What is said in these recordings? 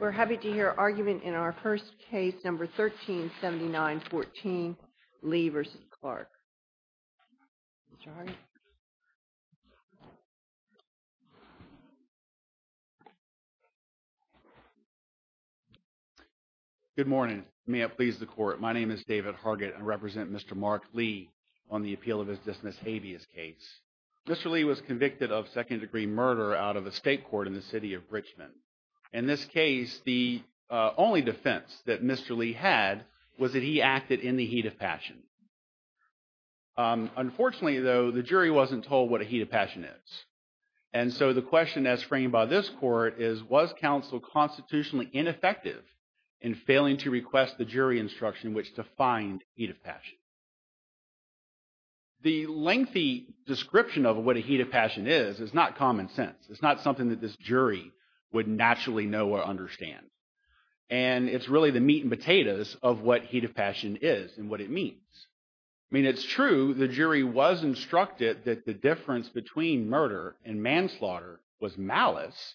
We're happy to hear argument in our first case number 1379-14, Lee v. Clarke. Mr. Hargatt. Good morning. May it please the court. My name is David Hargatt. I represent Mr. Mark Lee on the appeal of his Dismissed Habeas case. Mr. Lee was convicted of second-degree murder out of a state court in the city of Richmond. In this case, the only defense that Mr. Lee had was that he acted in the heat of passion. Unfortunately, though, the jury wasn't told what a heat of passion is. And so the question as framed by this court is, was counsel constitutionally ineffective in failing to request the jury instruction in which to find heat of passion? The lengthy description of what a heat of passion is is not common sense. It's not something that this jury would naturally know or understand. And it's really the meat and potatoes of what heat of passion is and what it means. I mean it's true the jury was instructed that the difference between murder and manslaughter was malice.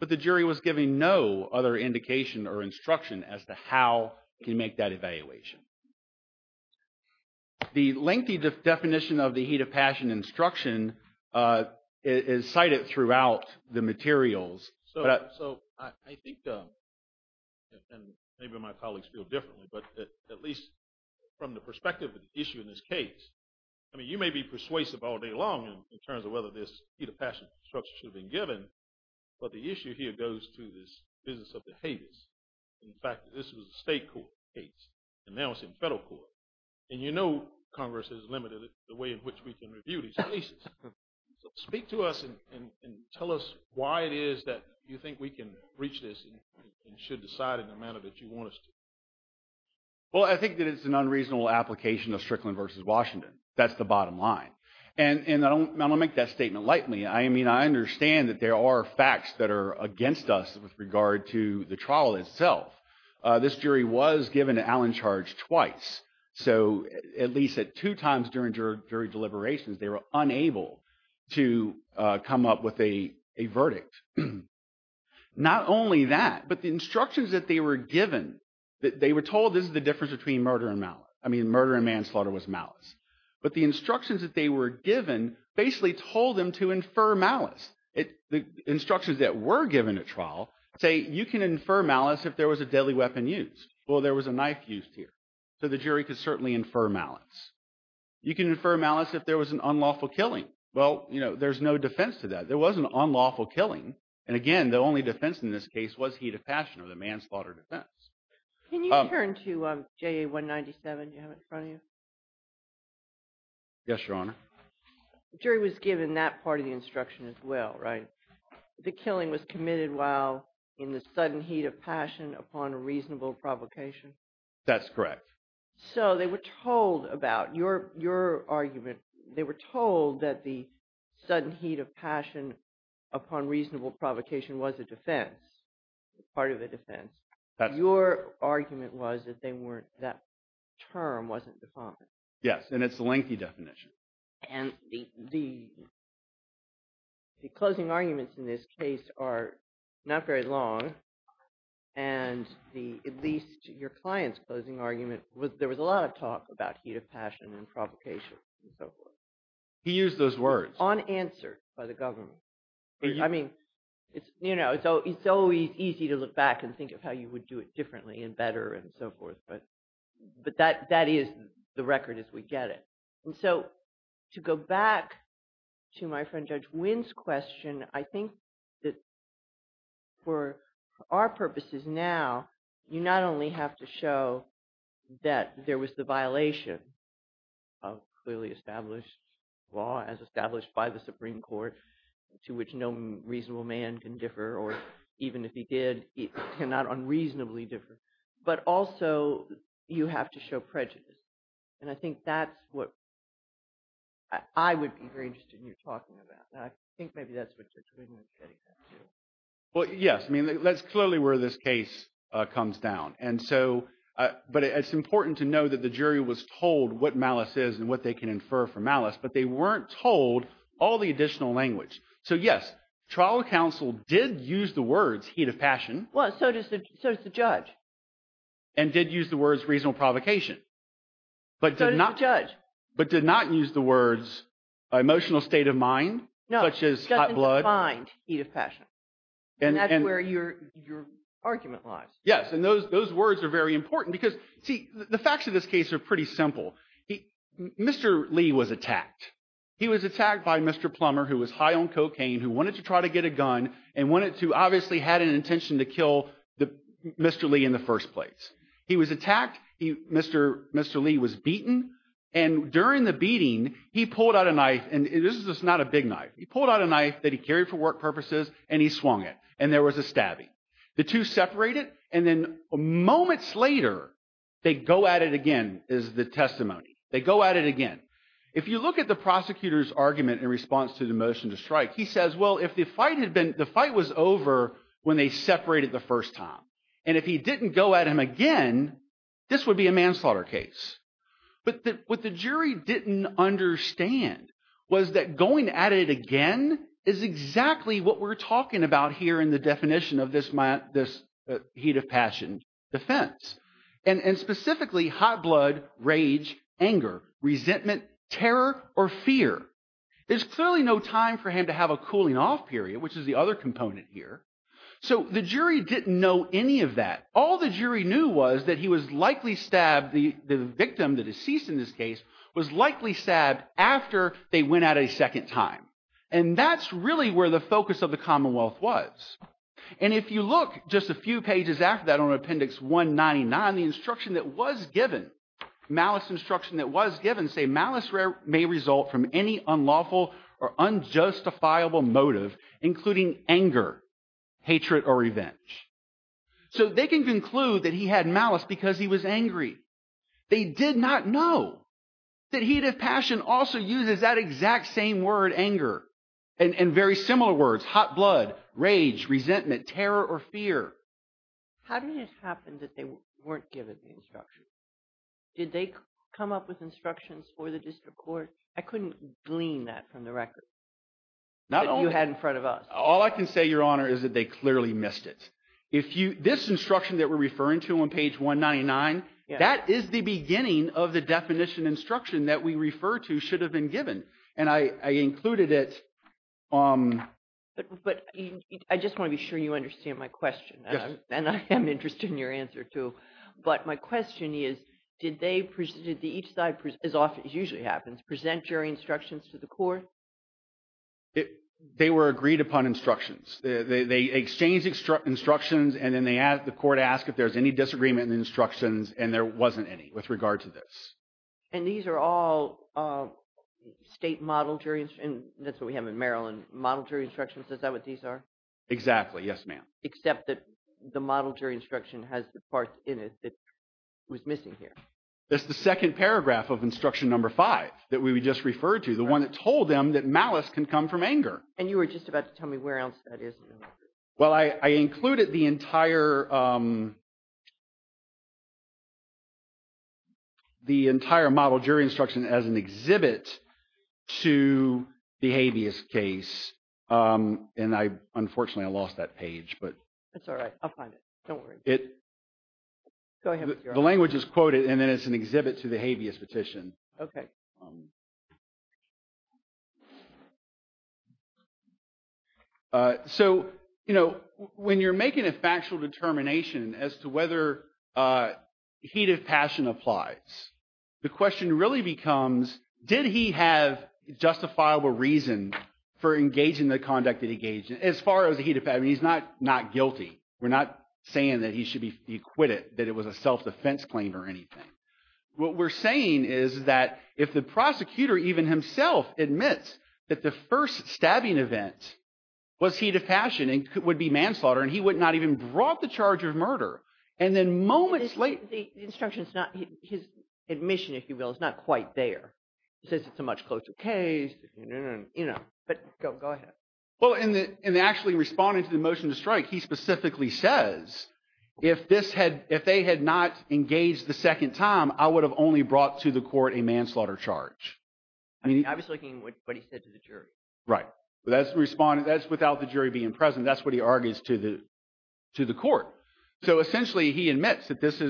But the jury was giving no other indication or instruction as to how to make that evaluation. The lengthy definition of the heat of passion instruction is cited throughout the materials. So I think, and maybe my colleagues feel differently, but at least from the perspective of the issue in this case, I mean you may be persuasive all day long in terms of whether this heat of passion instruction should have been given. But the issue here goes to this business of the habeas. In fact, this was a state court case and now it's in federal court. And you know Congress has limited the way in which we can review these cases. So speak to us and tell us why it is that you think we can reach this and should decide in the manner that you want us to. Well, I think that it's an unreasonable application of Strickland versus Washington. That's the bottom line. And I'm going to make that statement lightly. I mean I understand that there are facts that are against us with regard to the trial itself. This jury was given an Allen charge twice. So at least at two times during jury deliberations they were unable to come up with a verdict. Not only that, but the instructions that they were given, they were told this is the difference between murder and malice. I mean murder and manslaughter was malice. But the instructions that they were given basically told them to infer malice. The instructions that were given at trial say you can infer malice if there was a deadly weapon used. Well, there was a knife used here. So the jury could certainly infer malice. You can infer malice if there was an unlawful killing. Well, there's no defense to that. There was an unlawful killing. And again, the only defense in this case was heat of passion or the manslaughter defense. Can you turn to JA 197 you have in front of you? Yes, Your Honor. The jury was given that part of the instruction as well, right? The killing was committed while in the sudden heat of passion upon a reasonable provocation. That's correct. So they were told about your argument. They were told that the sudden heat of passion upon reasonable provocation was a defense, part of a defense. Your argument was that that term wasn't defined. Yes, and it's a lengthy definition. And the closing arguments in this case are not very long. And at least your client's closing argument, there was a lot of talk about heat of passion and provocation and so forth. He used those words. Unanswered by the government. I mean, it's always easy to look back and think of how you would do it differently and better and so forth. But that is the record as we get it. And so to go back to my friend Judge Wynn's question, I think that for our purposes now, you not only have to show that there was the violation of clearly established law as established by the Supreme Court. To which no reasonable man can differ. Or even if he did, he cannot unreasonably differ. But also, you have to show prejudice. And I think that's what I would be very interested in your talking about. And I think maybe that's what Judge Wynn was getting at too. Well, yes. I mean, that's clearly where this case comes down. But it's important to know that the jury was told what malice is and what they can infer from malice. But they weren't told all the additional language. So, yes, trial counsel did use the words heat of passion. Well, so does the judge. And did use the words reasonable provocation. So does the judge. But did not use the words emotional state of mind, such as hot blood. No, doesn't define heat of passion. And that's where your argument lies. Yes, and those words are very important because, see, the facts of this case are pretty simple. Mr. Lee was attacked. He was attacked by Mr. Plummer, who was high on cocaine, who wanted to try to get a gun, and wanted to obviously had an intention to kill Mr. Lee in the first place. He was attacked. Mr. Lee was beaten. And during the beating, he pulled out a knife. And this is not a big knife. He pulled out a knife that he carried for work purposes, and he swung it. And there was a stabbing. The two separated, and then moments later, they go at it again, is the testimony. They go at it again. If you look at the prosecutor's argument in response to the motion to strike, he says, well, if the fight was over when they separated the first time, and if he didn't go at him again, this would be a manslaughter case. But what the jury didn't understand was that going at it again is exactly what we're talking about here in the definition of this heat of passion defense. And specifically, hot blood, rage, anger, resentment, terror, or fear. There's clearly no time for him to have a cooling-off period, which is the other component here. So the jury didn't know any of that. All the jury knew was that he was likely stabbed, the victim, the deceased in this case, was likely stabbed after they went at it a second time. And that's really where the focus of the Commonwealth was. And if you look just a few pages after that on Appendix 199, the instruction that was given, malice instruction that was given, say, malice may result from any unlawful or unjustifiable motive, including anger, hatred, or revenge. So they can conclude that he had malice because he was angry. They did not know that heat of passion also uses that exact same word, anger, and very similar words, hot blood, rage, resentment, terror, or fear. How did it happen that they weren't given the instruction? Did they come up with instructions for the district court? I couldn't glean that from the record that you had in front of us. All I can say, Your Honor, is that they clearly missed it. This instruction that we're referring to on page 199, that is the beginning of the definition instruction that we refer to should have been given. And I included it. But I just want to be sure you understand my question. Yes. And I am interested in your answer too. But my question is, did each side, as often as usually happens, present jury instructions to the court? They were agreed upon instructions. They exchanged instructions, and then the court asked if there was any disagreement in the instructions, and there wasn't any with regard to this. And these are all state model jury instructions? That's what we have in Maryland, model jury instructions. Is that what these are? Exactly. Yes, ma'am. Except that the model jury instruction has the part in it that was missing here. That's the second paragraph of instruction number five that we just referred to, the one that told them that malice can come from anger. And you were just about to tell me where else that is. Well, I included the entire model jury instruction as an exhibit to the habeas case, and unfortunately I lost that page. That's all right. I'll find it. Don't worry. Go ahead. The language is quoted, and then it's an exhibit to the habeas petition. Okay. So when you're making a factual determination as to whether heat of passion applies, the question really becomes did he have justifiable reason for engaging the conduct that he engaged in? As far as the heat of passion, he's not guilty. We're not saying that he should be acquitted, that it was a self-defense claim or anything. What we're saying is that if the prosecutor even himself admits that the first stabbing event was heat of passion, it would be manslaughter, and he would not even brought the charge of murder. And then moments later – The instruction is not – his admission, if you will, is not quite there. It says it's a much closer case. But go ahead. Well, in actually responding to the motion to strike, he specifically says if they had not engaged the second time, I would have only brought to the court a manslaughter charge. I was looking at what he said to the jury. Right. That's without the jury being present. That's what he argues to the court. So essentially he admits that this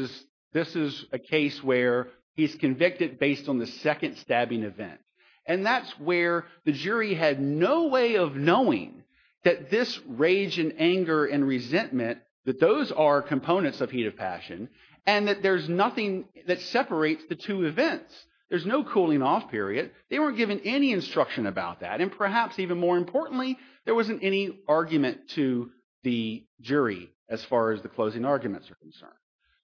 is a case where he's convicted based on the second stabbing event, and that's where the jury had no way of knowing that this rage and anger and resentment, that those are components of heat of passion, and that there's nothing that separates the two events. There's no cooling-off period. They weren't given any instruction about that. And perhaps even more importantly, there wasn't any argument to the jury as far as the closing arguments are concerned.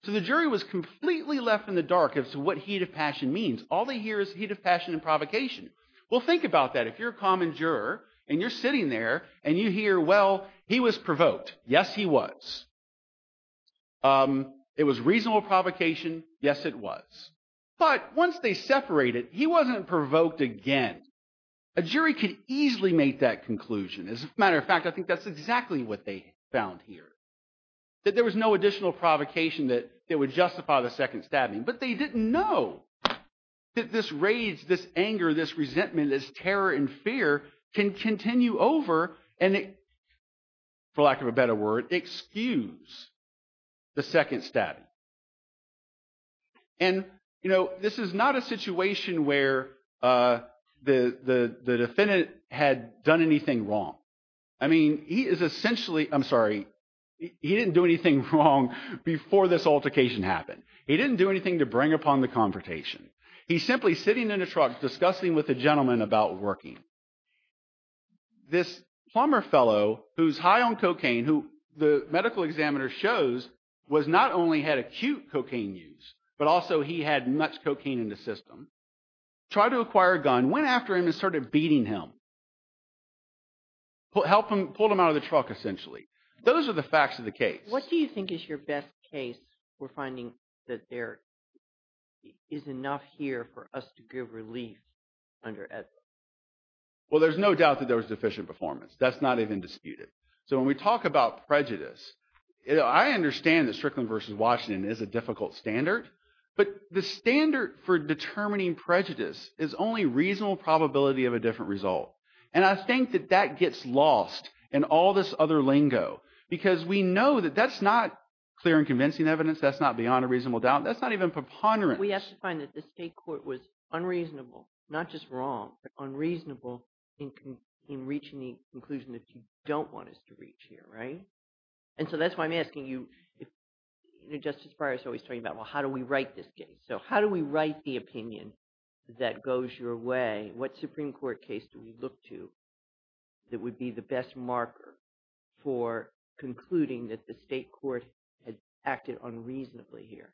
So the jury was completely left in the dark as to what heat of passion means. All they hear is heat of passion and provocation. Well, think about that. If you're a common juror and you're sitting there and you hear, well, he was provoked. Yes, he was. It was reasonable provocation. Yes, it was. But once they separated, he wasn't provoked again. A jury could easily make that conclusion. As a matter of fact, I think that's exactly what they found here, that there was no additional provocation that would justify the second stabbing. But they didn't know that this rage, this anger, this resentment, this terror and fear can continue over and, for lack of a better word, excuse the second stabbing. And this is not a situation where the defendant had done anything wrong. I mean, he is essentially – I'm sorry. He didn't do anything wrong before this altercation happened. He didn't do anything to bring upon the confrontation. He's simply sitting in a truck discussing with a gentleman about working. This plumber fellow who's high on cocaine, who the medical examiner shows was not only had acute cocaine use, but also he had much cocaine in the system, tried to acquire a gun, went after him and started beating him, pulled him out of the truck essentially. Those are the facts of the case. What do you think is your best case for finding that there is enough here for us to give relief under Edwin? Well, there's no doubt that there was deficient performance. That's not even disputed. So when we talk about prejudice, I understand that Strickland v. Washington is a difficult standard. But the standard for determining prejudice is only reasonable probability of a different result. And I think that that gets lost in all this other lingo because we know that that's not clear and convincing evidence. That's not beyond a reasonable doubt. That's not even preponderance. We have to find that the state court was unreasonable, not just wrong, but unreasonable in reaching the conclusion that you don't want us to reach here. And so that's why I'm asking you – Justice Breyer is always talking about, well, how do we write this case? So how do we write the opinion that goes your way? What Supreme Court case do we look to that would be the best marker for concluding that the state court had acted unreasonably here?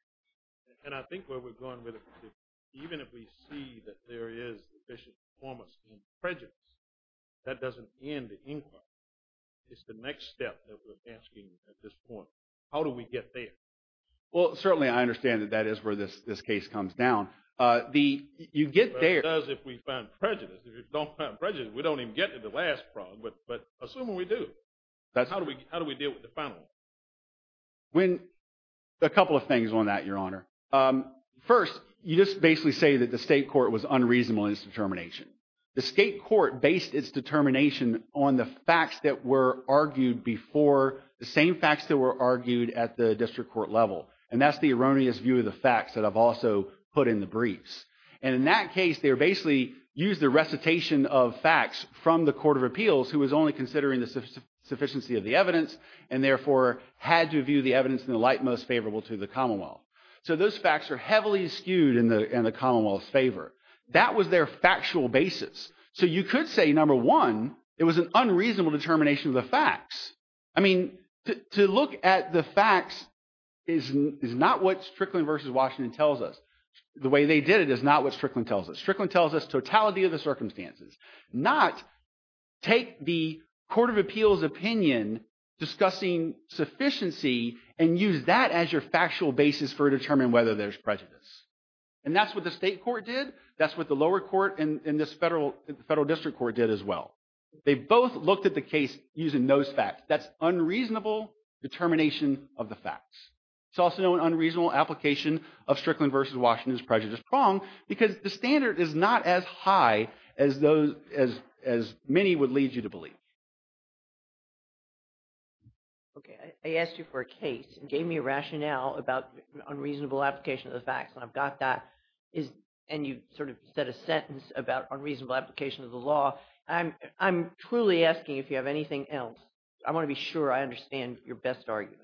And I think where we're going with it is even if we see that there is deficient performance in prejudice, that doesn't end the inquiry. It's the next step that we're asking at this point. How do we get there? Well, certainly I understand that that is where this case comes down. It does if we find prejudice. If we don't find prejudice, we don't even get to the last fraud, but assume we do. How do we deal with the final? A couple of things on that, Your Honor. First, you just basically say that the state court was unreasonable in its determination. The state court based its determination on the facts that were argued before, the same facts that were argued at the district court level. And that's the erroneous view of the facts that I've also put in the briefs. And in that case, they basically used the recitation of facts from the court of appeals who was only considering the sufficiency of the evidence and therefore had to view the evidence in the light most favorable to the commonwealth. So those facts are heavily skewed in the commonwealth's favor. That was their factual basis. So you could say, number one, it was an unreasonable determination of the facts. I mean, to look at the facts is not what Strickland v. Washington tells us. The way they did it is not what Strickland tells us. Strickland tells us totality of the circumstances, not take the court of appeals opinion discussing sufficiency and use that as your factual basis for determining whether there's prejudice. And that's what the state court did. That's what the lower court and this federal district court did as well. They both looked at the case using those facts. That's unreasonable determination of the facts. It's also an unreasonable application of Strickland v. Washington's prejudice prong because the standard is not as high as many would lead you to believe. Okay, I asked you for a case and gave me a rationale about unreasonable application of the facts, and I've got that. And you sort of said a sentence about unreasonable application of the law. I'm truly asking if you have anything else. I want to be sure I understand your best arguments.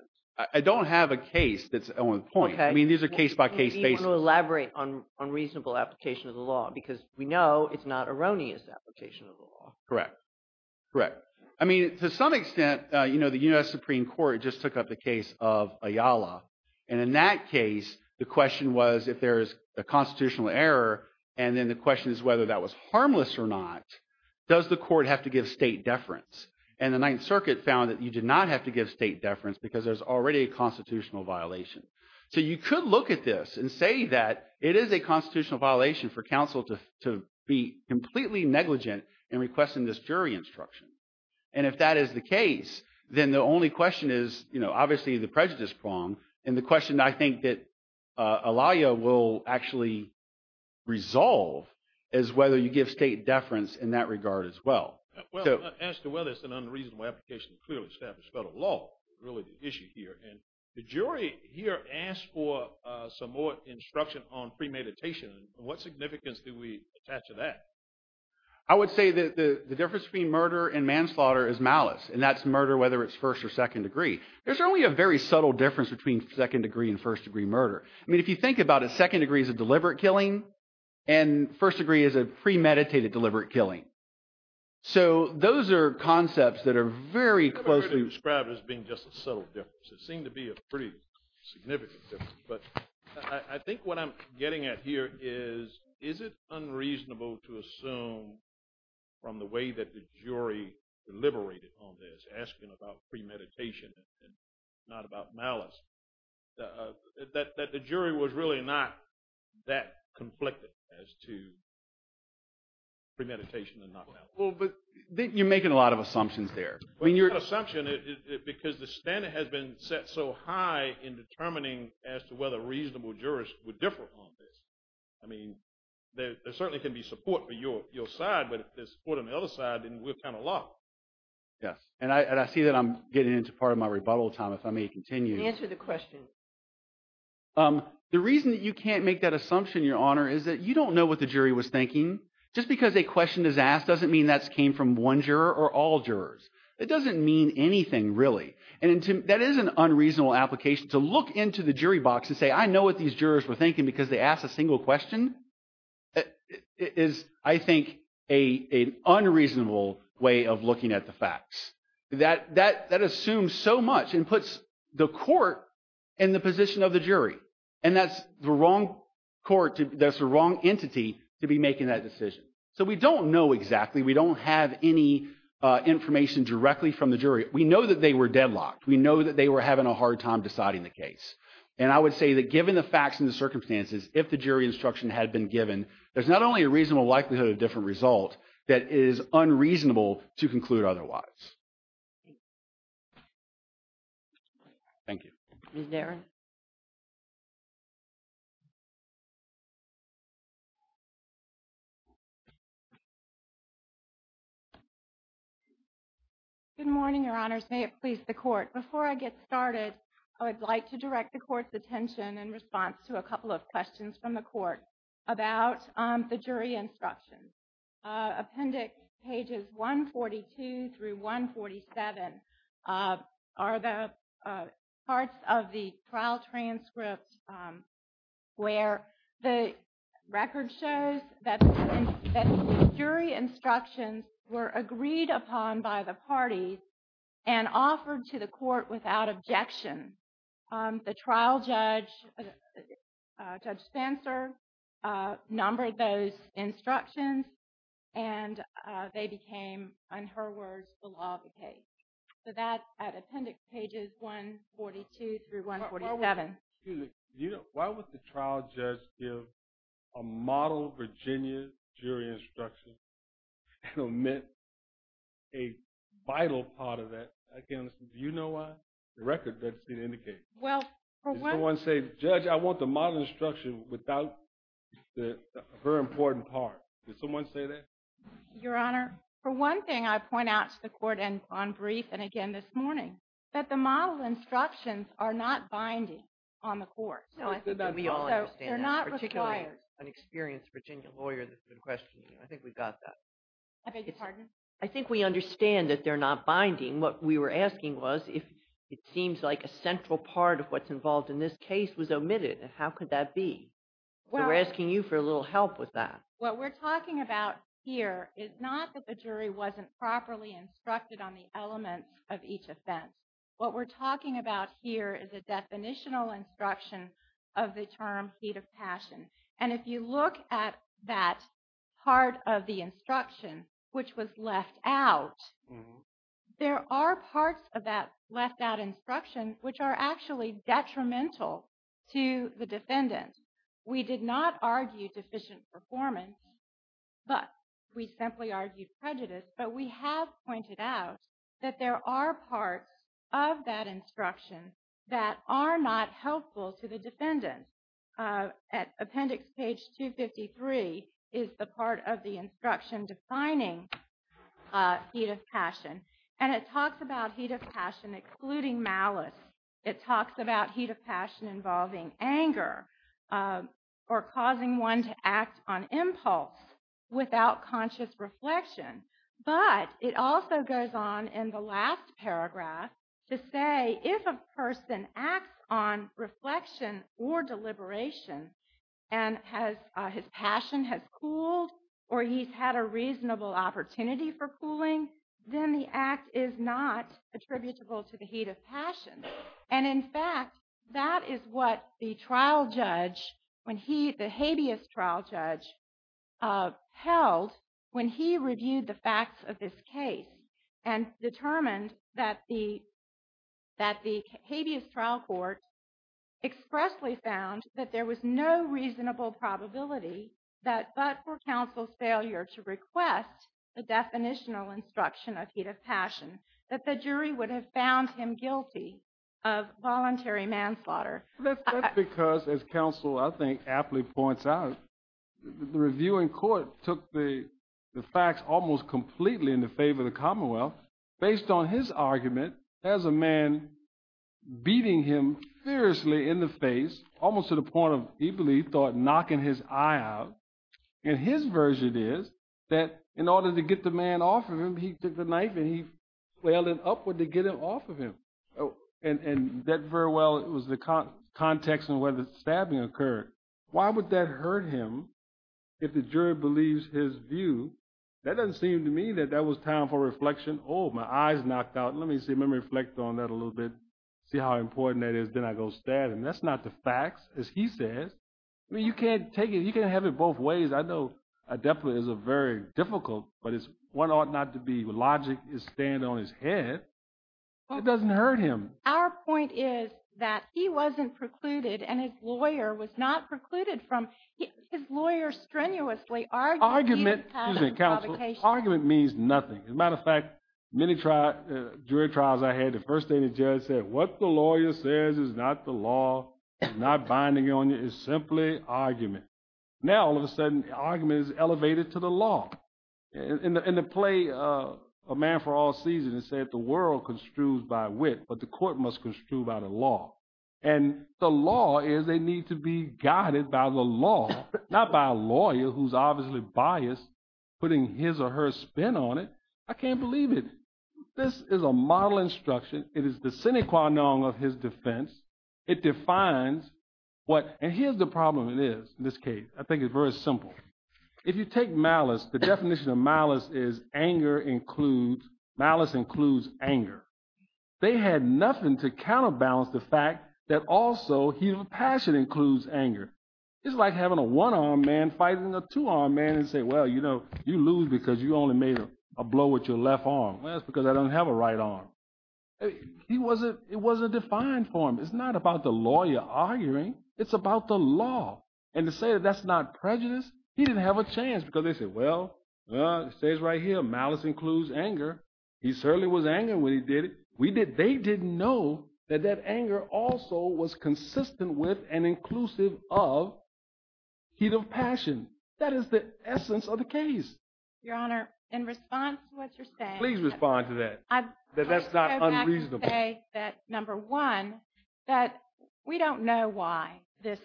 I don't have a case that's on point. I mean these are case-by-case basis. Maybe you want to elaborate on unreasonable application of the law because we know it's not erroneous application of the law. Correct, correct. I mean to some extent, you know, the U.S. Supreme Court just took up the case of Ayala. And in that case, the question was if there's a constitutional error and then the question is whether that was harmless or not, does the court have to give state deference? And the Ninth Circuit found that you did not have to give state deference because there's already a constitutional violation. So you could look at this and say that it is a constitutional violation for counsel to be completely negligent in requesting this jury instruction. And if that is the case, then the only question is, you know, obviously the prejudice prong. And the question I think that Ayala will actually resolve is whether you give state deference in that regard as well. Well, as to whether it's an unreasonable application to clearly establish federal law is really the issue here. And the jury here asked for some more instruction on premeditation. What significance do we attach to that? I would say that the difference between murder and manslaughter is malice, and that's murder whether it's first or second degree. There's only a very subtle difference between second degree and first degree murder. I mean if you think about it, second degree is a deliberate killing and first degree is a premeditated deliberate killing. So those are concepts that are very closely— They seem to be a pretty significant difference, but I think what I'm getting at here is, is it unreasonable to assume from the way that the jury deliberated on this, asking about premeditation and not about malice, that the jury was really not that conflicted as to premeditation and not malice? Well, but you're making a lot of assumptions there. It's not an assumption because the standard has been set so high in determining as to whether reasonable jurors would differ on this. I mean there certainly can be support for your side, but if there's support on the other side, then we're kind of locked. Yes, and I see that I'm getting into part of my rebuttal time. If I may continue. Answer the question. The reason that you can't make that assumption, Your Honor, is that you don't know what the jury was thinking. Just because a question is asked doesn't mean that came from one juror or all jurors. It doesn't mean anything really. And that is an unreasonable application to look into the jury box and say I know what these jurors were thinking because they asked a single question. It is, I think, an unreasonable way of looking at the facts. That assumes so much and puts the court in the position of the jury. And that's the wrong court, that's the wrong entity to be making that decision. So we don't know exactly. We don't have any information directly from the jury. We know that they were deadlocked. We know that they were having a hard time deciding the case. And I would say that given the facts and the circumstances, if the jury instruction had been given, there's not only a reasonable likelihood of a different result, that it is unreasonable to conclude otherwise. Thank you. Ms. Nerin? Good morning, Your Honors. May it please the Court. Before I get started, I would like to direct the Court's attention in response to a couple of questions from the Court about the jury instruction. Appendix pages 142 through 147 are the parts of the trial transcript where the record shows that the jury instructions were agreed upon by the parties and offered to the Court without objection. The trial judge, Judge Spencer, numbered those instructions and they became, in her words, the law of the case. So that's at appendix pages 142 through 147. Excuse me. Why would the trial judge give a model Virginia jury instruction and omit a vital part of that? I can't understand. Do you know why? The record doesn't seem to indicate it. Did someone say, Judge, I want the model instruction without the very important part? Did someone say that? Your Honor, for one thing, I point out to the Court on brief and again this morning, that the model instructions are not binding on the Court. No, I think that we all understand that, particularly as an experienced Virginia lawyer that's been questioning you. I think we got that. I beg your pardon? I think we understand that they're not binding. What we were asking was if it seems like a central part of what's involved in this case was omitted, how could that be? We're asking you for a little help with that. What we're talking about here is not that the jury wasn't properly instructed on the elements of each offense. What we're talking about here is a definitional instruction of the term heat of passion. And if you look at that part of the instruction which was left out, there are parts of that left out instruction which are actually detrimental to the defendant. We did not argue deficient performance, but we simply argued prejudice. But we have pointed out that there are parts of that instruction that are not helpful to the defendant. Appendix page 253 is the part of the instruction defining heat of passion. And it talks about heat of passion excluding malice. It talks about heat of passion involving anger or causing one to act on impulse without conscious reflection. But it also goes on in the last paragraph to say if a person acts on reflection or deliberation and his passion has cooled or he's had a reasonable opportunity for cooling, then the act is not attributable to the heat of passion. And in fact, that is what the trial judge, the habeas trial judge, held when he reviewed the facts of this case and determined that the habeas trial court expressly found that there was no reasonable probability that but for counsel's failure to request the definitional instruction of heat of passion, that the jury would have found him guilty of voluntary manslaughter. That's because, as counsel, I think, aptly points out, the review in court took the facts almost completely in the favor of the Commonwealth based on his argument as a man beating him fiercely in the face, almost to the point of, he believed, knocking his eye out. And his version is that in order to get the man off of him, he took the knife and he wailed it upward to get him off of him. And that very well was the context in where the stabbing occurred. Why would that hurt him if the jury believes his view? That doesn't seem to me that that was time for reflection. Oh, my eye's knocked out. Let me see. Let me reflect on that a little bit, see how important that is. Then I go stab him. That's not the facts, as he says. I mean, you can't take it. You can't have it both ways. I know adeptly is a very difficult, but it's one ought not to be. The logic is staying on his head. It doesn't hurt him. Our point is that he wasn't precluded and his lawyer was not precluded from. His lawyer strenuously argued that he had a provocation. Excuse me, counsel. Argument means nothing. As a matter of fact, many jury trials I had, the first day the judge said, what the lawyer says is not the law. It's not binding on you. It's simply argument. Now, all of a sudden, argument is elevated to the law. In the play A Man for All Seasons, it said the world construes by wit, but the court must construe by the law. And the law is they need to be guided by the law, not by a lawyer who's obviously biased, putting his or her spin on it. I can't believe it. This is a model instruction. It is the sine qua non of his defense. It defines what, and here's the problem it is in this case. I think it's very simple. If you take malice, the definition of malice is anger includes, malice includes anger. They had nothing to counterbalance the fact that also his passion includes anger. It's like having a one-armed man fighting a two-armed man and say, well, you know, you lose because you only made a blow with your left arm. Well, that's because I don't have a right arm. It wasn't defined for him. It's not about the lawyer arguing. It's about the law. And to say that that's not prejudice, he didn't have a chance because they said, well, it says right here, malice includes anger. He certainly was angry when he did it. They didn't know that that anger also was consistent with and inclusive of heat of passion. That is the essence of the case. Your Honor, in response to what you're saying. Please respond to that, that that's not unreasonable. I would say that, number one, that we don't know why this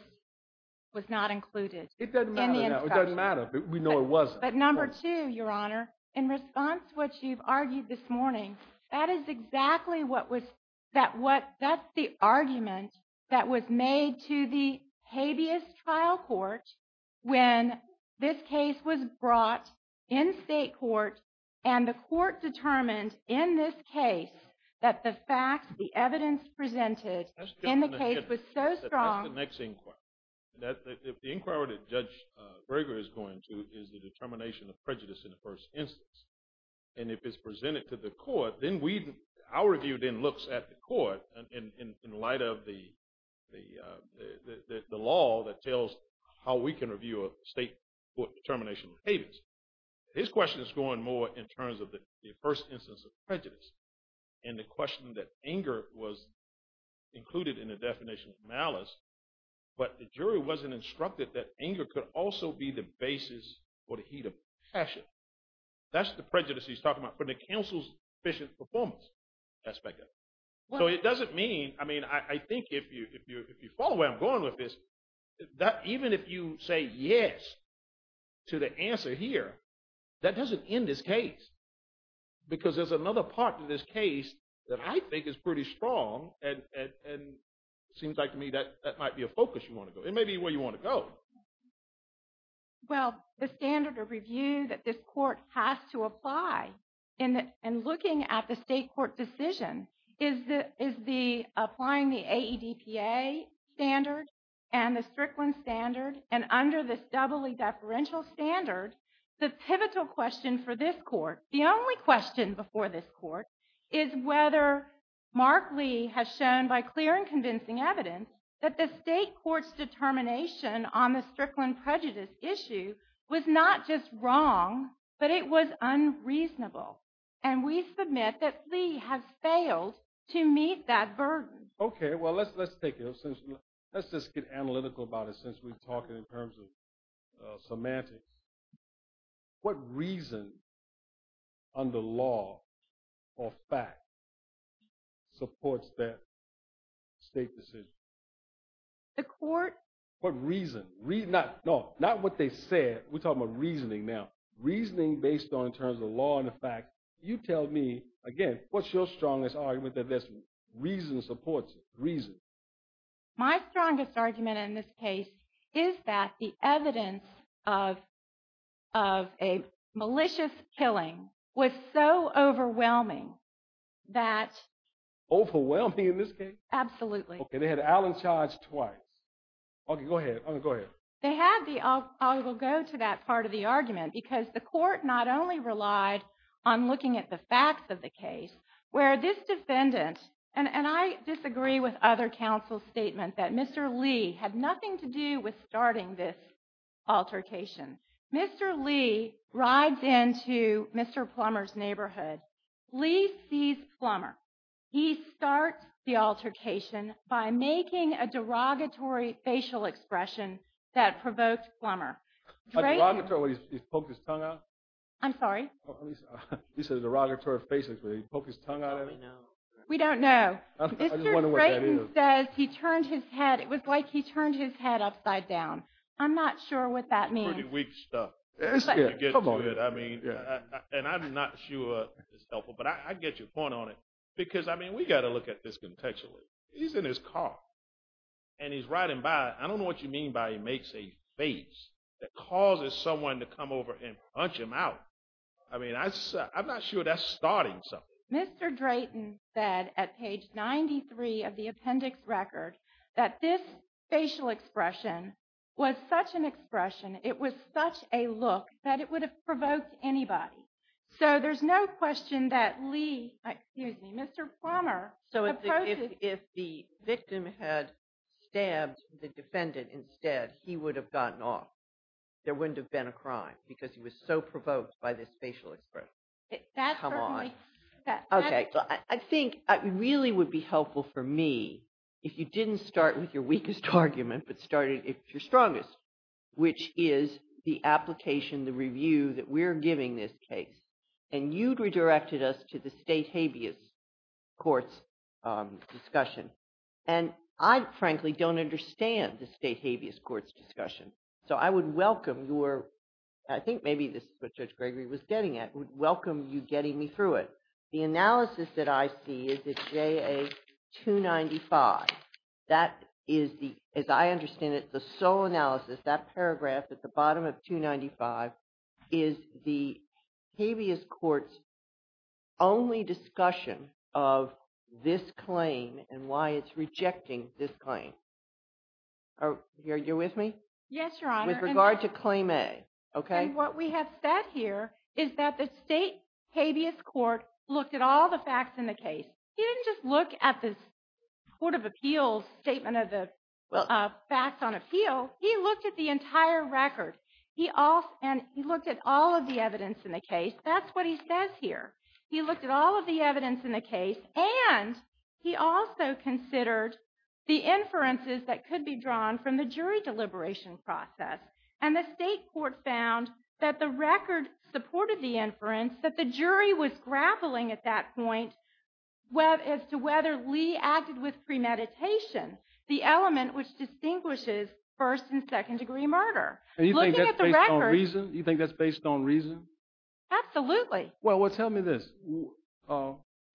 was not included. It doesn't matter. It doesn't matter. We know it wasn't. But number two, Your Honor, in response to what you've argued this morning, that is exactly what was that what that's the argument that was made to the habeas trial court when this case was brought in state court. And the court determined in this case that the facts, the evidence presented in the case was so strong. That's the next inquiry. If the inquiry that Judge Breger is going to is the determination of prejudice in the first instance. And if it's presented to the court, then we, our review then looks at the court in light of the law that tells how we can review a state court determination of habeas. His question is going more in terms of the first instance of prejudice and the question that anger was included in the definition of malice. But the jury wasn't instructed that anger could also be the basis for the heat of passion. That's the prejudice he's talking about from the counsel's efficient performance aspect of it. So it doesn't mean, I mean, I think if you follow where I'm going with this, that even if you say yes to the answer here, that doesn't end this case. Because there's another part to this case that I think is pretty strong and seems like to me that might be a focus you want to go. It may be where you want to go. Well, the standard of review that this court has to apply in looking at the state court decision is applying the AEDPA standard and the Strickland standard. And under this doubly deferential standard, the pivotal question for this court, the only question before this court, is whether Mark Lee has shown by clear and convincing evidence that the state court's determination on the Strickland prejudice issue was not just wrong, but it was unreasonable. And we submit that Lee has failed to meet that burden. Okay, well, let's take it. Let's just get analytical about it since we're talking in terms of semantics. What reason under law or fact supports that state decision? The court? What reason? No, not what they said. We're talking about reasoning now. Reasoning based on terms of law and the fact. You tell me, again, what's your strongest argument that this reason supports it? Reason. My strongest argument in this case is that the evidence of a malicious killing was so overwhelming that... Overwhelming in this case? Absolutely. Okay, they had Allen charged twice. Okay, go ahead. They had the... I will go to that part of the argument because the court not only relied on looking at the facts of the case, where this defendant, and I disagree with other counsel's statement that Mr. Lee had nothing to do with starting this altercation. Mr. Lee rides into Mr. Plummer's neighborhood. Lee sees Plummer. He starts the altercation by making a derogatory facial expression that provoked Plummer. A derogatory, where he poked his tongue out? I'm sorry? You said a derogatory facial expression, where he poked his tongue out at him? We don't know. We don't know. I just wonder what that is. Mr. Drayton says he turned his head. It was like he turned his head upside down. I'm not sure what that means. Pretty weak stuff. Come on. And I'm not sure it's helpful, but I get your point on it because, I mean, we've got to look at this contextually. He's in his car, and he's riding by. I don't know what you mean by he makes a face that causes someone to come over and punch him out. I mean, I'm not sure that's starting something. Mr. Drayton said at page 93 of the appendix record that this facial expression was such an expression, it was such a look, that it would have provoked anybody. So there's no question that Lee, excuse me, Mr. Plummer opposed it. So if the victim had stabbed the defendant instead, he would have gotten off. There wouldn't have been a crime because he was so provoked by this facial expression. Come on. Okay. I think it really would be helpful for me if you didn't start with your weakest argument but started with your strongest, which is the application, the review that we're giving this case. And you'd redirected us to the state habeas courts discussion. And I, frankly, don't understand the state habeas courts discussion. So I would welcome your, I think maybe this is what Judge Gregory was getting at, would welcome you getting me through it. The analysis that I see is it's JA 295. That is the, as I understand it, the sole analysis, that paragraph at the bottom of 295 is the habeas courts only discussion of this claim and why it's rejecting this claim. Are you with me? Yes, Your Honor. With regard to claim A. Okay. And what we have said here is that the state habeas court looked at all the facts in the case. He didn't just look at the Court of Appeals statement of the facts on appeal. He looked at the entire record. And he looked at all of the evidence in the case. That's what he says here. He looked at all of the evidence in the case. And he also considered the inferences that could be drawn from the jury deliberation process. And the state court found that the record supported the inference that the jury was grappling at that point as to whether Lee acted with premeditation, the element which distinguishes first and second degree murder. And you think that's based on reason? Absolutely. Well, tell me this.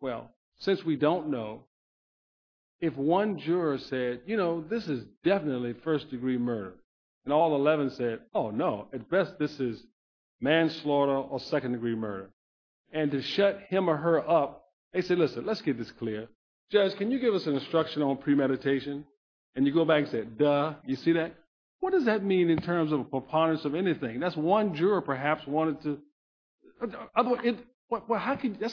Well, since we don't know, if one juror said, you know, this is definitely first degree murder. And all 11 said, oh, no, at best this is manslaughter or second degree murder. And to shut him or her up, they said, listen, let's get this clear. Judge, can you give us an instruction on premeditation? And you go back and say, duh, you see that? What does that mean in terms of preponderance of anything? That's one juror, perhaps, wanted to –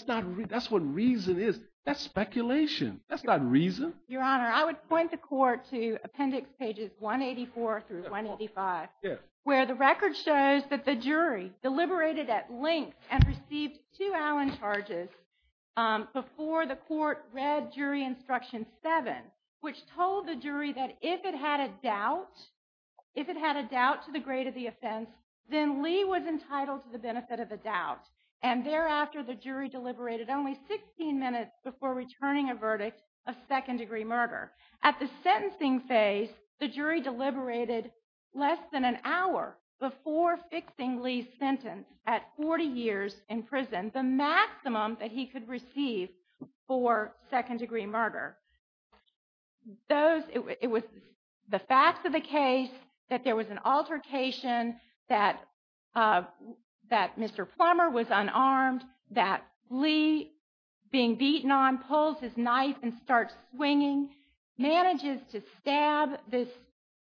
that's what reason is. That's speculation. That's not reason. Your Honor, I would point the court to appendix pages 184 through 185, where the record shows that the jury deliberated at length and received two Allen charges before the court read jury instruction seven, which told the jury that if it had a doubt, if it had a doubt to the grade of the offense, then Lee was entitled to the benefit of the doubt. And thereafter, the jury deliberated only 16 minutes before returning a verdict of second degree murder. At the sentencing phase, the jury deliberated less than an hour before fixing Lee's sentence at 40 years in prison, the maximum that he could receive for second degree murder. It was the fact of the case that there was an altercation, that Mr. Plummer was unarmed, that Lee, being beaten on, pulls his knife and starts swinging, manages to stab this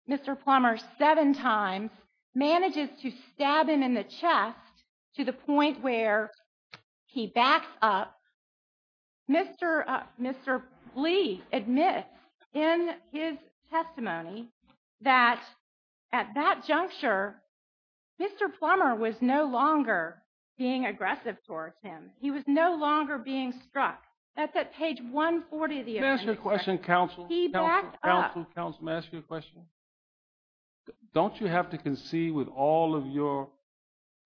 Mr. Plummer seven times, manages to stab him in the chest to the point where he backs up. Mr. Lee admits in his testimony that at that juncture, Mr. Plummer was no longer being aggressive towards him. He was no longer being struck. That's at page 140 of the appendix. May I ask you a question, counsel? He backed up. Counsel, counsel, may I ask you a question? Don't you have to concede with all of your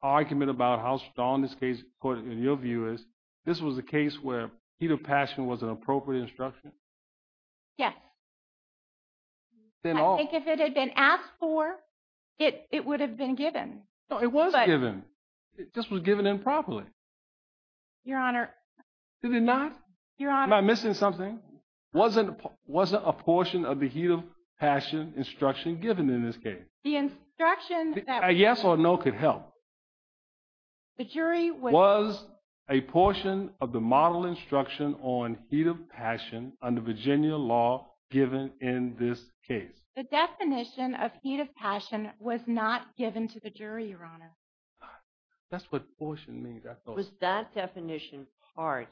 argument about how strong this case, in your view, is? This was a case where heat of passion was an appropriate instruction? Yes. I think if it had been asked for, it would have been given. It was given. It just was given improperly. Your Honor. Did it not? Your Honor. Am I missing something? Wasn't a portion of the heat of passion instruction given in this case? The instruction that- A yes or no could help. The jury was- Was a portion of the model instruction on heat of passion under Virginia law given in this case? The definition of heat of passion was not given to the jury, Your Honor. That's what portion means, I thought. Was that definition part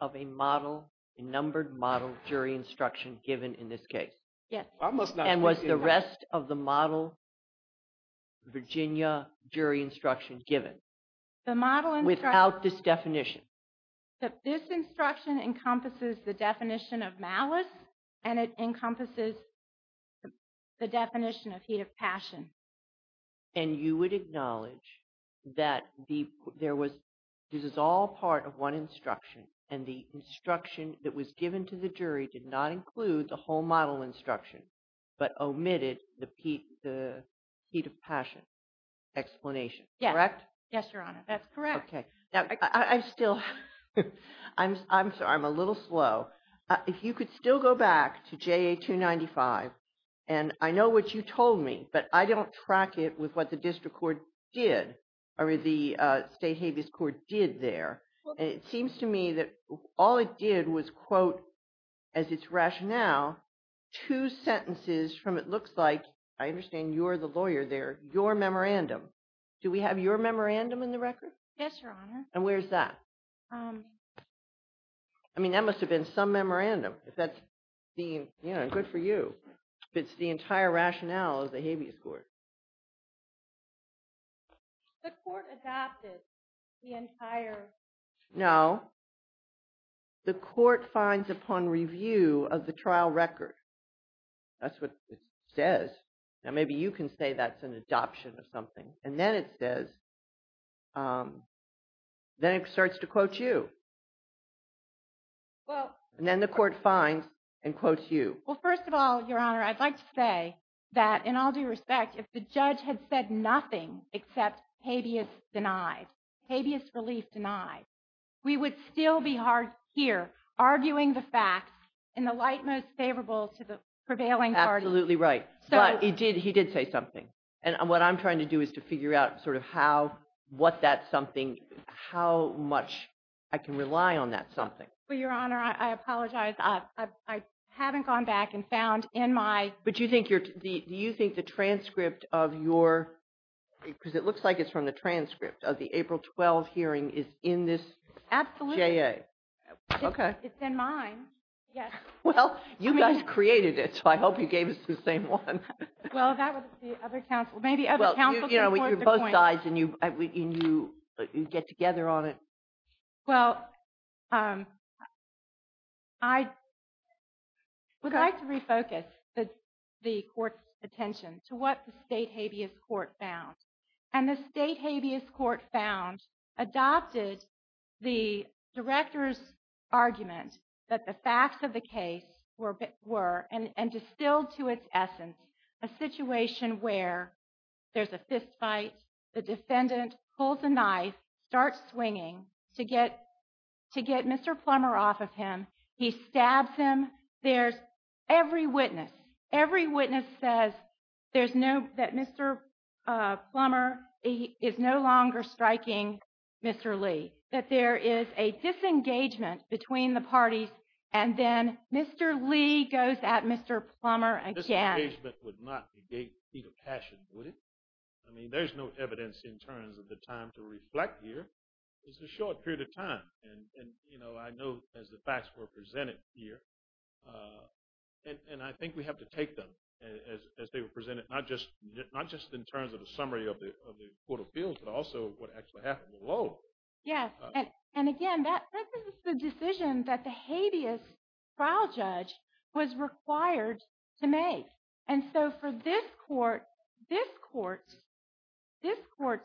of a model, a numbered model jury instruction given in this case? Yes. I must not- And was the rest of the model Virginia jury instruction given? The model instruction- Without this definition? This instruction encompasses the definition of malice, and it encompasses the definition of heat of passion. And you would acknowledge that there was- This is all part of one instruction, and the instruction that was given to the jury did not include the whole model instruction, but omitted the heat of passion explanation. Yes. Correct? Yes, Your Honor. That's correct. Okay. Now, I still- I'm sorry. I'm a little slow. If you could still go back to JA 295, and I know what you told me, but I don't track it with what the district court did, or the state habeas court did there. It seems to me that all it did was, quote, as its rationale, two sentences from it looks like, I understand you're the lawyer there, your memorandum. Do we have your memorandum in the record? Yes, Your Honor. And where's that? I mean, that must have been some memorandum. If that's the- Good for you. If it's the entire rationale of the habeas court. The court adopted the entire- No. The court finds upon review of the trial record. That's what it says. Now, maybe you can say that's an adoption of something. And then it says, then it starts to quote you. Well- And then the court finds and quotes you. Well, first of all, Your Honor, I'd like to say that in all due respect, if the judge had said nothing except habeas denied, habeas relief denied, we would still be here arguing the facts in the light most favorable to the prevailing party. Absolutely right. But he did say something. And what I'm trying to do is to figure out sort of how, what that something, how much I can rely on that something. Well, Your Honor, I apologize. I haven't gone back and found in my- But do you think the transcript of your- because it looks like it's from the transcript of the April 12 hearing is in this JA. Absolutely. Okay. It's in mine. Yes. Well, you guys created it, so I hope you gave us the same one. Well, that was the other counsel. Maybe other counsel can quote the point. Well, you're both sides, and you get together on it. Well, I would like to refocus the court's attention to what the state habeas court found. And the state habeas court found, adopted the director's argument that the facts of the case were, and distilled to its essence, a situation where there's a fistfight, the defendant pulls a knife, starts swinging to get Mr. Plummer off of him. He stabs him. Every witness says that Mr. Plummer is no longer striking Mr. Lee, that there is a disengagement between the parties, and then Mr. Lee goes at Mr. Plummer again. Disengagement would not be the passion, would it? I mean, there's no evidence in terms of the time to reflect here. And I know, as the facts were presented here, and I think we have to take them as they were presented, not just in terms of a summary of the court of appeals, but also what actually happened below. Yes. And again, this is the decision that the habeas trial judge was required to make. And so for this court, this court, this court,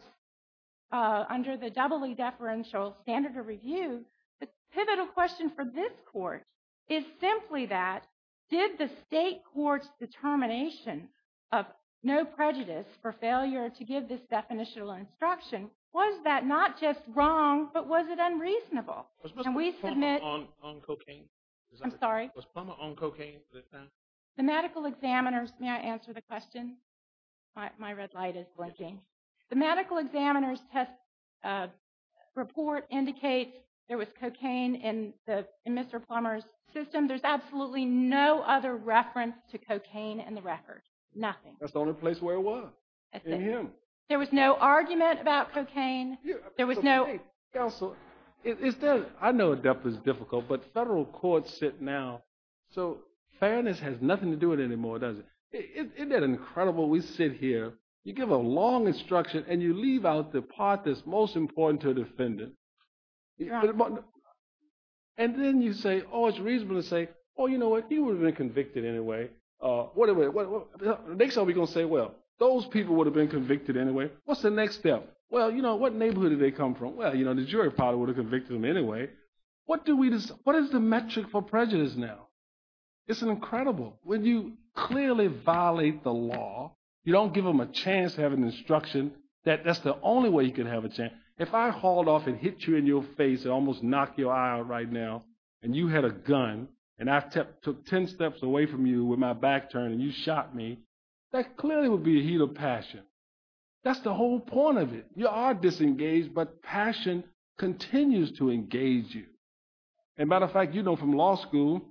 under the doubly deferential standard of review, the pivotal question for this court is simply that, did the state court's determination of no prejudice for failure to give this definitional instruction, was that not just wrong, but was it unreasonable? Was Mr. Plummer on cocaine? I'm sorry? Was Mr. Plummer on cocaine at the time? The medical examiner's, may I answer the question? My red light is blinking. The medical examiner's test report indicates there was cocaine in Mr. Plummer's system. There's absolutely no other reference to cocaine in the record. Nothing. That's the only place where it was. In him. There was no argument about cocaine. Counsel, I know a death is difficult, but federal courts sit now. So fairness has nothing to do with it anymore, does it? Isn't that incredible? We sit here. You give a long instruction, and you leave out the part that's most important to a defendant. And then you say, oh, it's reasonable to say, oh, you know what, he would have been convicted anyway. Next time we're going to say, well, those people would have been convicted anyway. What's the next step? Well, you know, what neighborhood did they come from? Well, you know, the jury probably would have convicted them anyway. What is the metric for prejudice now? It's incredible. When you clearly violate the law, you don't give them a chance to have an instruction that that's the only way you can have a chance. If I hauled off and hit you in your face and almost knocked your eye out right now, and you had a gun, and I took ten steps away from you with my back turn and you shot me, that clearly would be a heat of passion. That's the whole point of it. You are disengaged, but passion continues to engage you. As a matter of fact, you know from law school,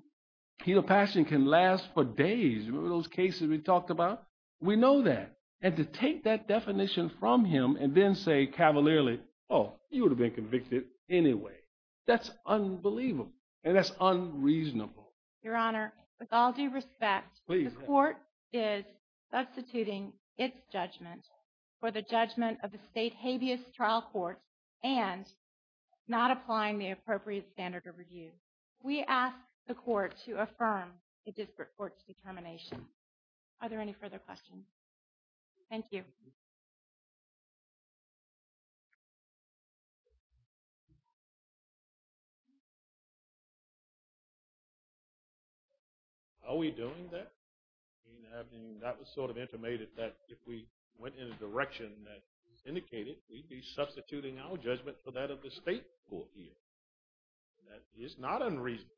heat of passion can last for days. Remember those cases we talked about? We know that. And to take that definition from him and then say cavalierly, oh, you would have been convicted anyway, that's unbelievable. And that's unreasonable. Your Honor, with all due respect, the court is substituting its judgment for the judgment of the state habeas trial court and not applying the appropriate standard of review. We ask the court to affirm the disparate court's determination. Are there any further questions? Thank you. Are we doing that? That was sort of intimated that if we went in a direction that is indicated, we'd be substituting our judgment for that of the state court here. That is not unreasonable.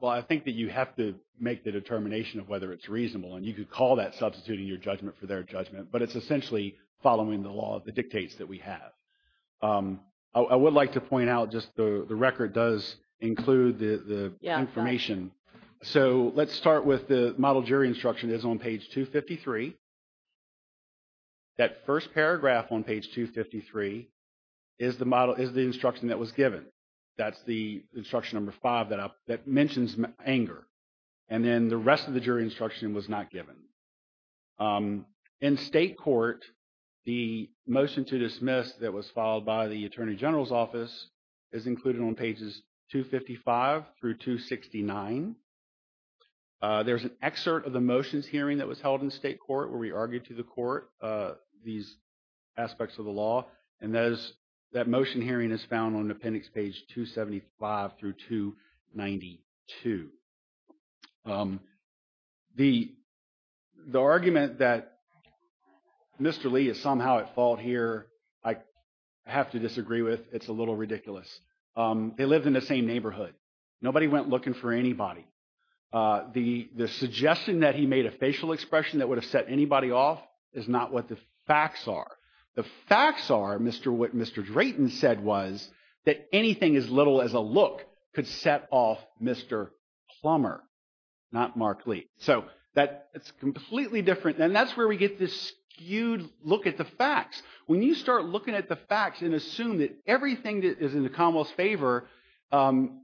Well, I think that you have to make the determination of whether it's reasonable, and you could call that substituting your judgment for their judgment, but it's essentially following the law, the dictates that we have. I would like to point out just the record does include the information. So let's start with the model jury instruction that's on page 253. That first paragraph on page 253 is the instruction that was given. That's the instruction number five that mentions anger. And then the rest of the jury instruction was not given. In state court, the motion to dismiss that was filed by the attorney general's office is included on pages 255 through 269. There's an excerpt of the motions hearing that was held in state court where we argued to the court these aspects of the law, and that motion hearing is found on appendix page 275 through 292. The argument that Mr. Lee is somehow at fault here, I have to disagree with. It's a little ridiculous. They lived in the same neighborhood. Nobody went looking for anybody. The suggestion that he made a facial expression that would have set anybody off is not what the facts are. The facts are what Mr. Drayton said was that anything as little as a look could set off Mr. Plummer, not Mark Lee. So that's completely different, and that's where we get this skewed look at the facts. When you start looking at the facts and assume that everything that is in the Commonwealth's favor and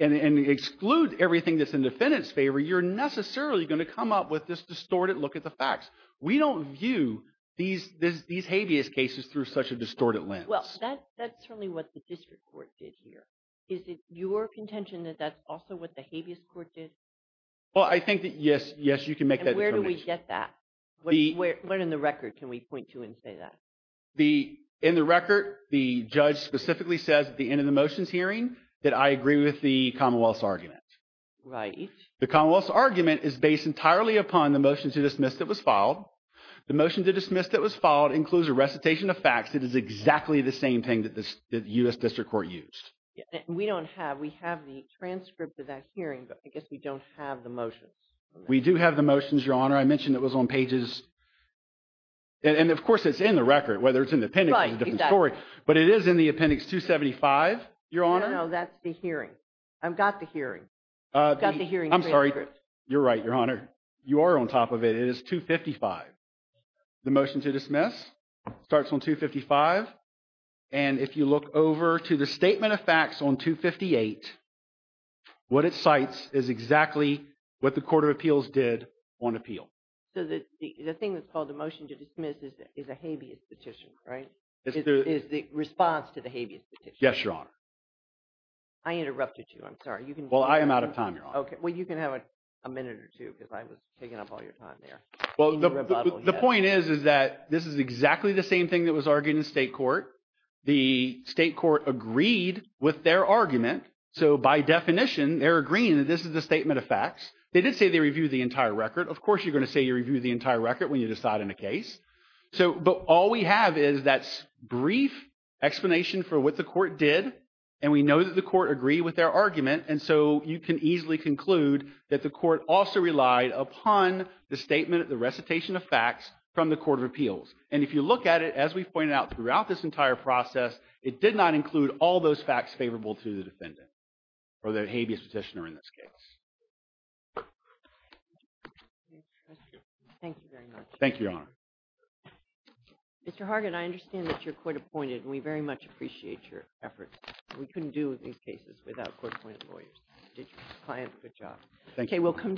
excludes everything that's in the defendant's favor, you're necessarily going to come up with this distorted look at the facts. We don't view these habeas cases through such a distorted lens. Well, that's certainly what the district court did here. Is it your contention that that's also what the habeas court did? Well, I think that, yes, you can make that determination. And where do we get that? What in the record can we point to and say that? In the record, the judge specifically says at the end of the motions hearing that I agree with the Commonwealth's argument. Right. The Commonwealth's argument is based entirely upon the motion to dismiss that was filed. The motion to dismiss that was filed includes a recitation of facts. It is exactly the same thing that the U.S. District Court used. We don't have – we have the transcript of that hearing, but I guess we don't have the motions. We do have the motions, Your Honor. I mentioned it was on pages – and, of course, it's in the record. Whether it's in the appendix is a different story. But it is in the appendix 275, Your Honor. No, that's the hearing. I've got the hearing. I've got the hearing transcript. I'm sorry. You're right, Your Honor. You are on top of it. It is 255. The motion to dismiss starts on 255, and if you look over to the statement of facts on 258, what it cites is exactly what the Court of Appeals did on appeal. So the thing that's called the motion to dismiss is a habeas petition, right? Is the response to the habeas petition. Yes, Your Honor. I interrupted you. I'm sorry. Well, I am out of time, Your Honor. Okay. Well, you can have a minute or two because I was taking up all your time there. Well, the point is, is that this is exactly the same thing that was argued in the state court. The state court agreed with their argument. So by definition, they're agreeing that this is the statement of facts. They did say they reviewed the entire record. Of course, you're going to say you reviewed the entire record when you decide on a case. But all we have is that brief explanation for what the court did, and we know that the court agreed with their argument. And so you can easily conclude that the court also relied upon the statement, the recitation of facts from the Court of Appeals. And if you look at it, as we've pointed out throughout this entire process, it did not include all those facts favorable to the defendant or the habeas petitioner in this case. Thank you very much. Thank you, Your Honor. Mr. Hargit, I understand that you're court appointed, and we very much appreciate your effort. We couldn't do these cases without court-appointed lawyers. Client, good job. Thank you.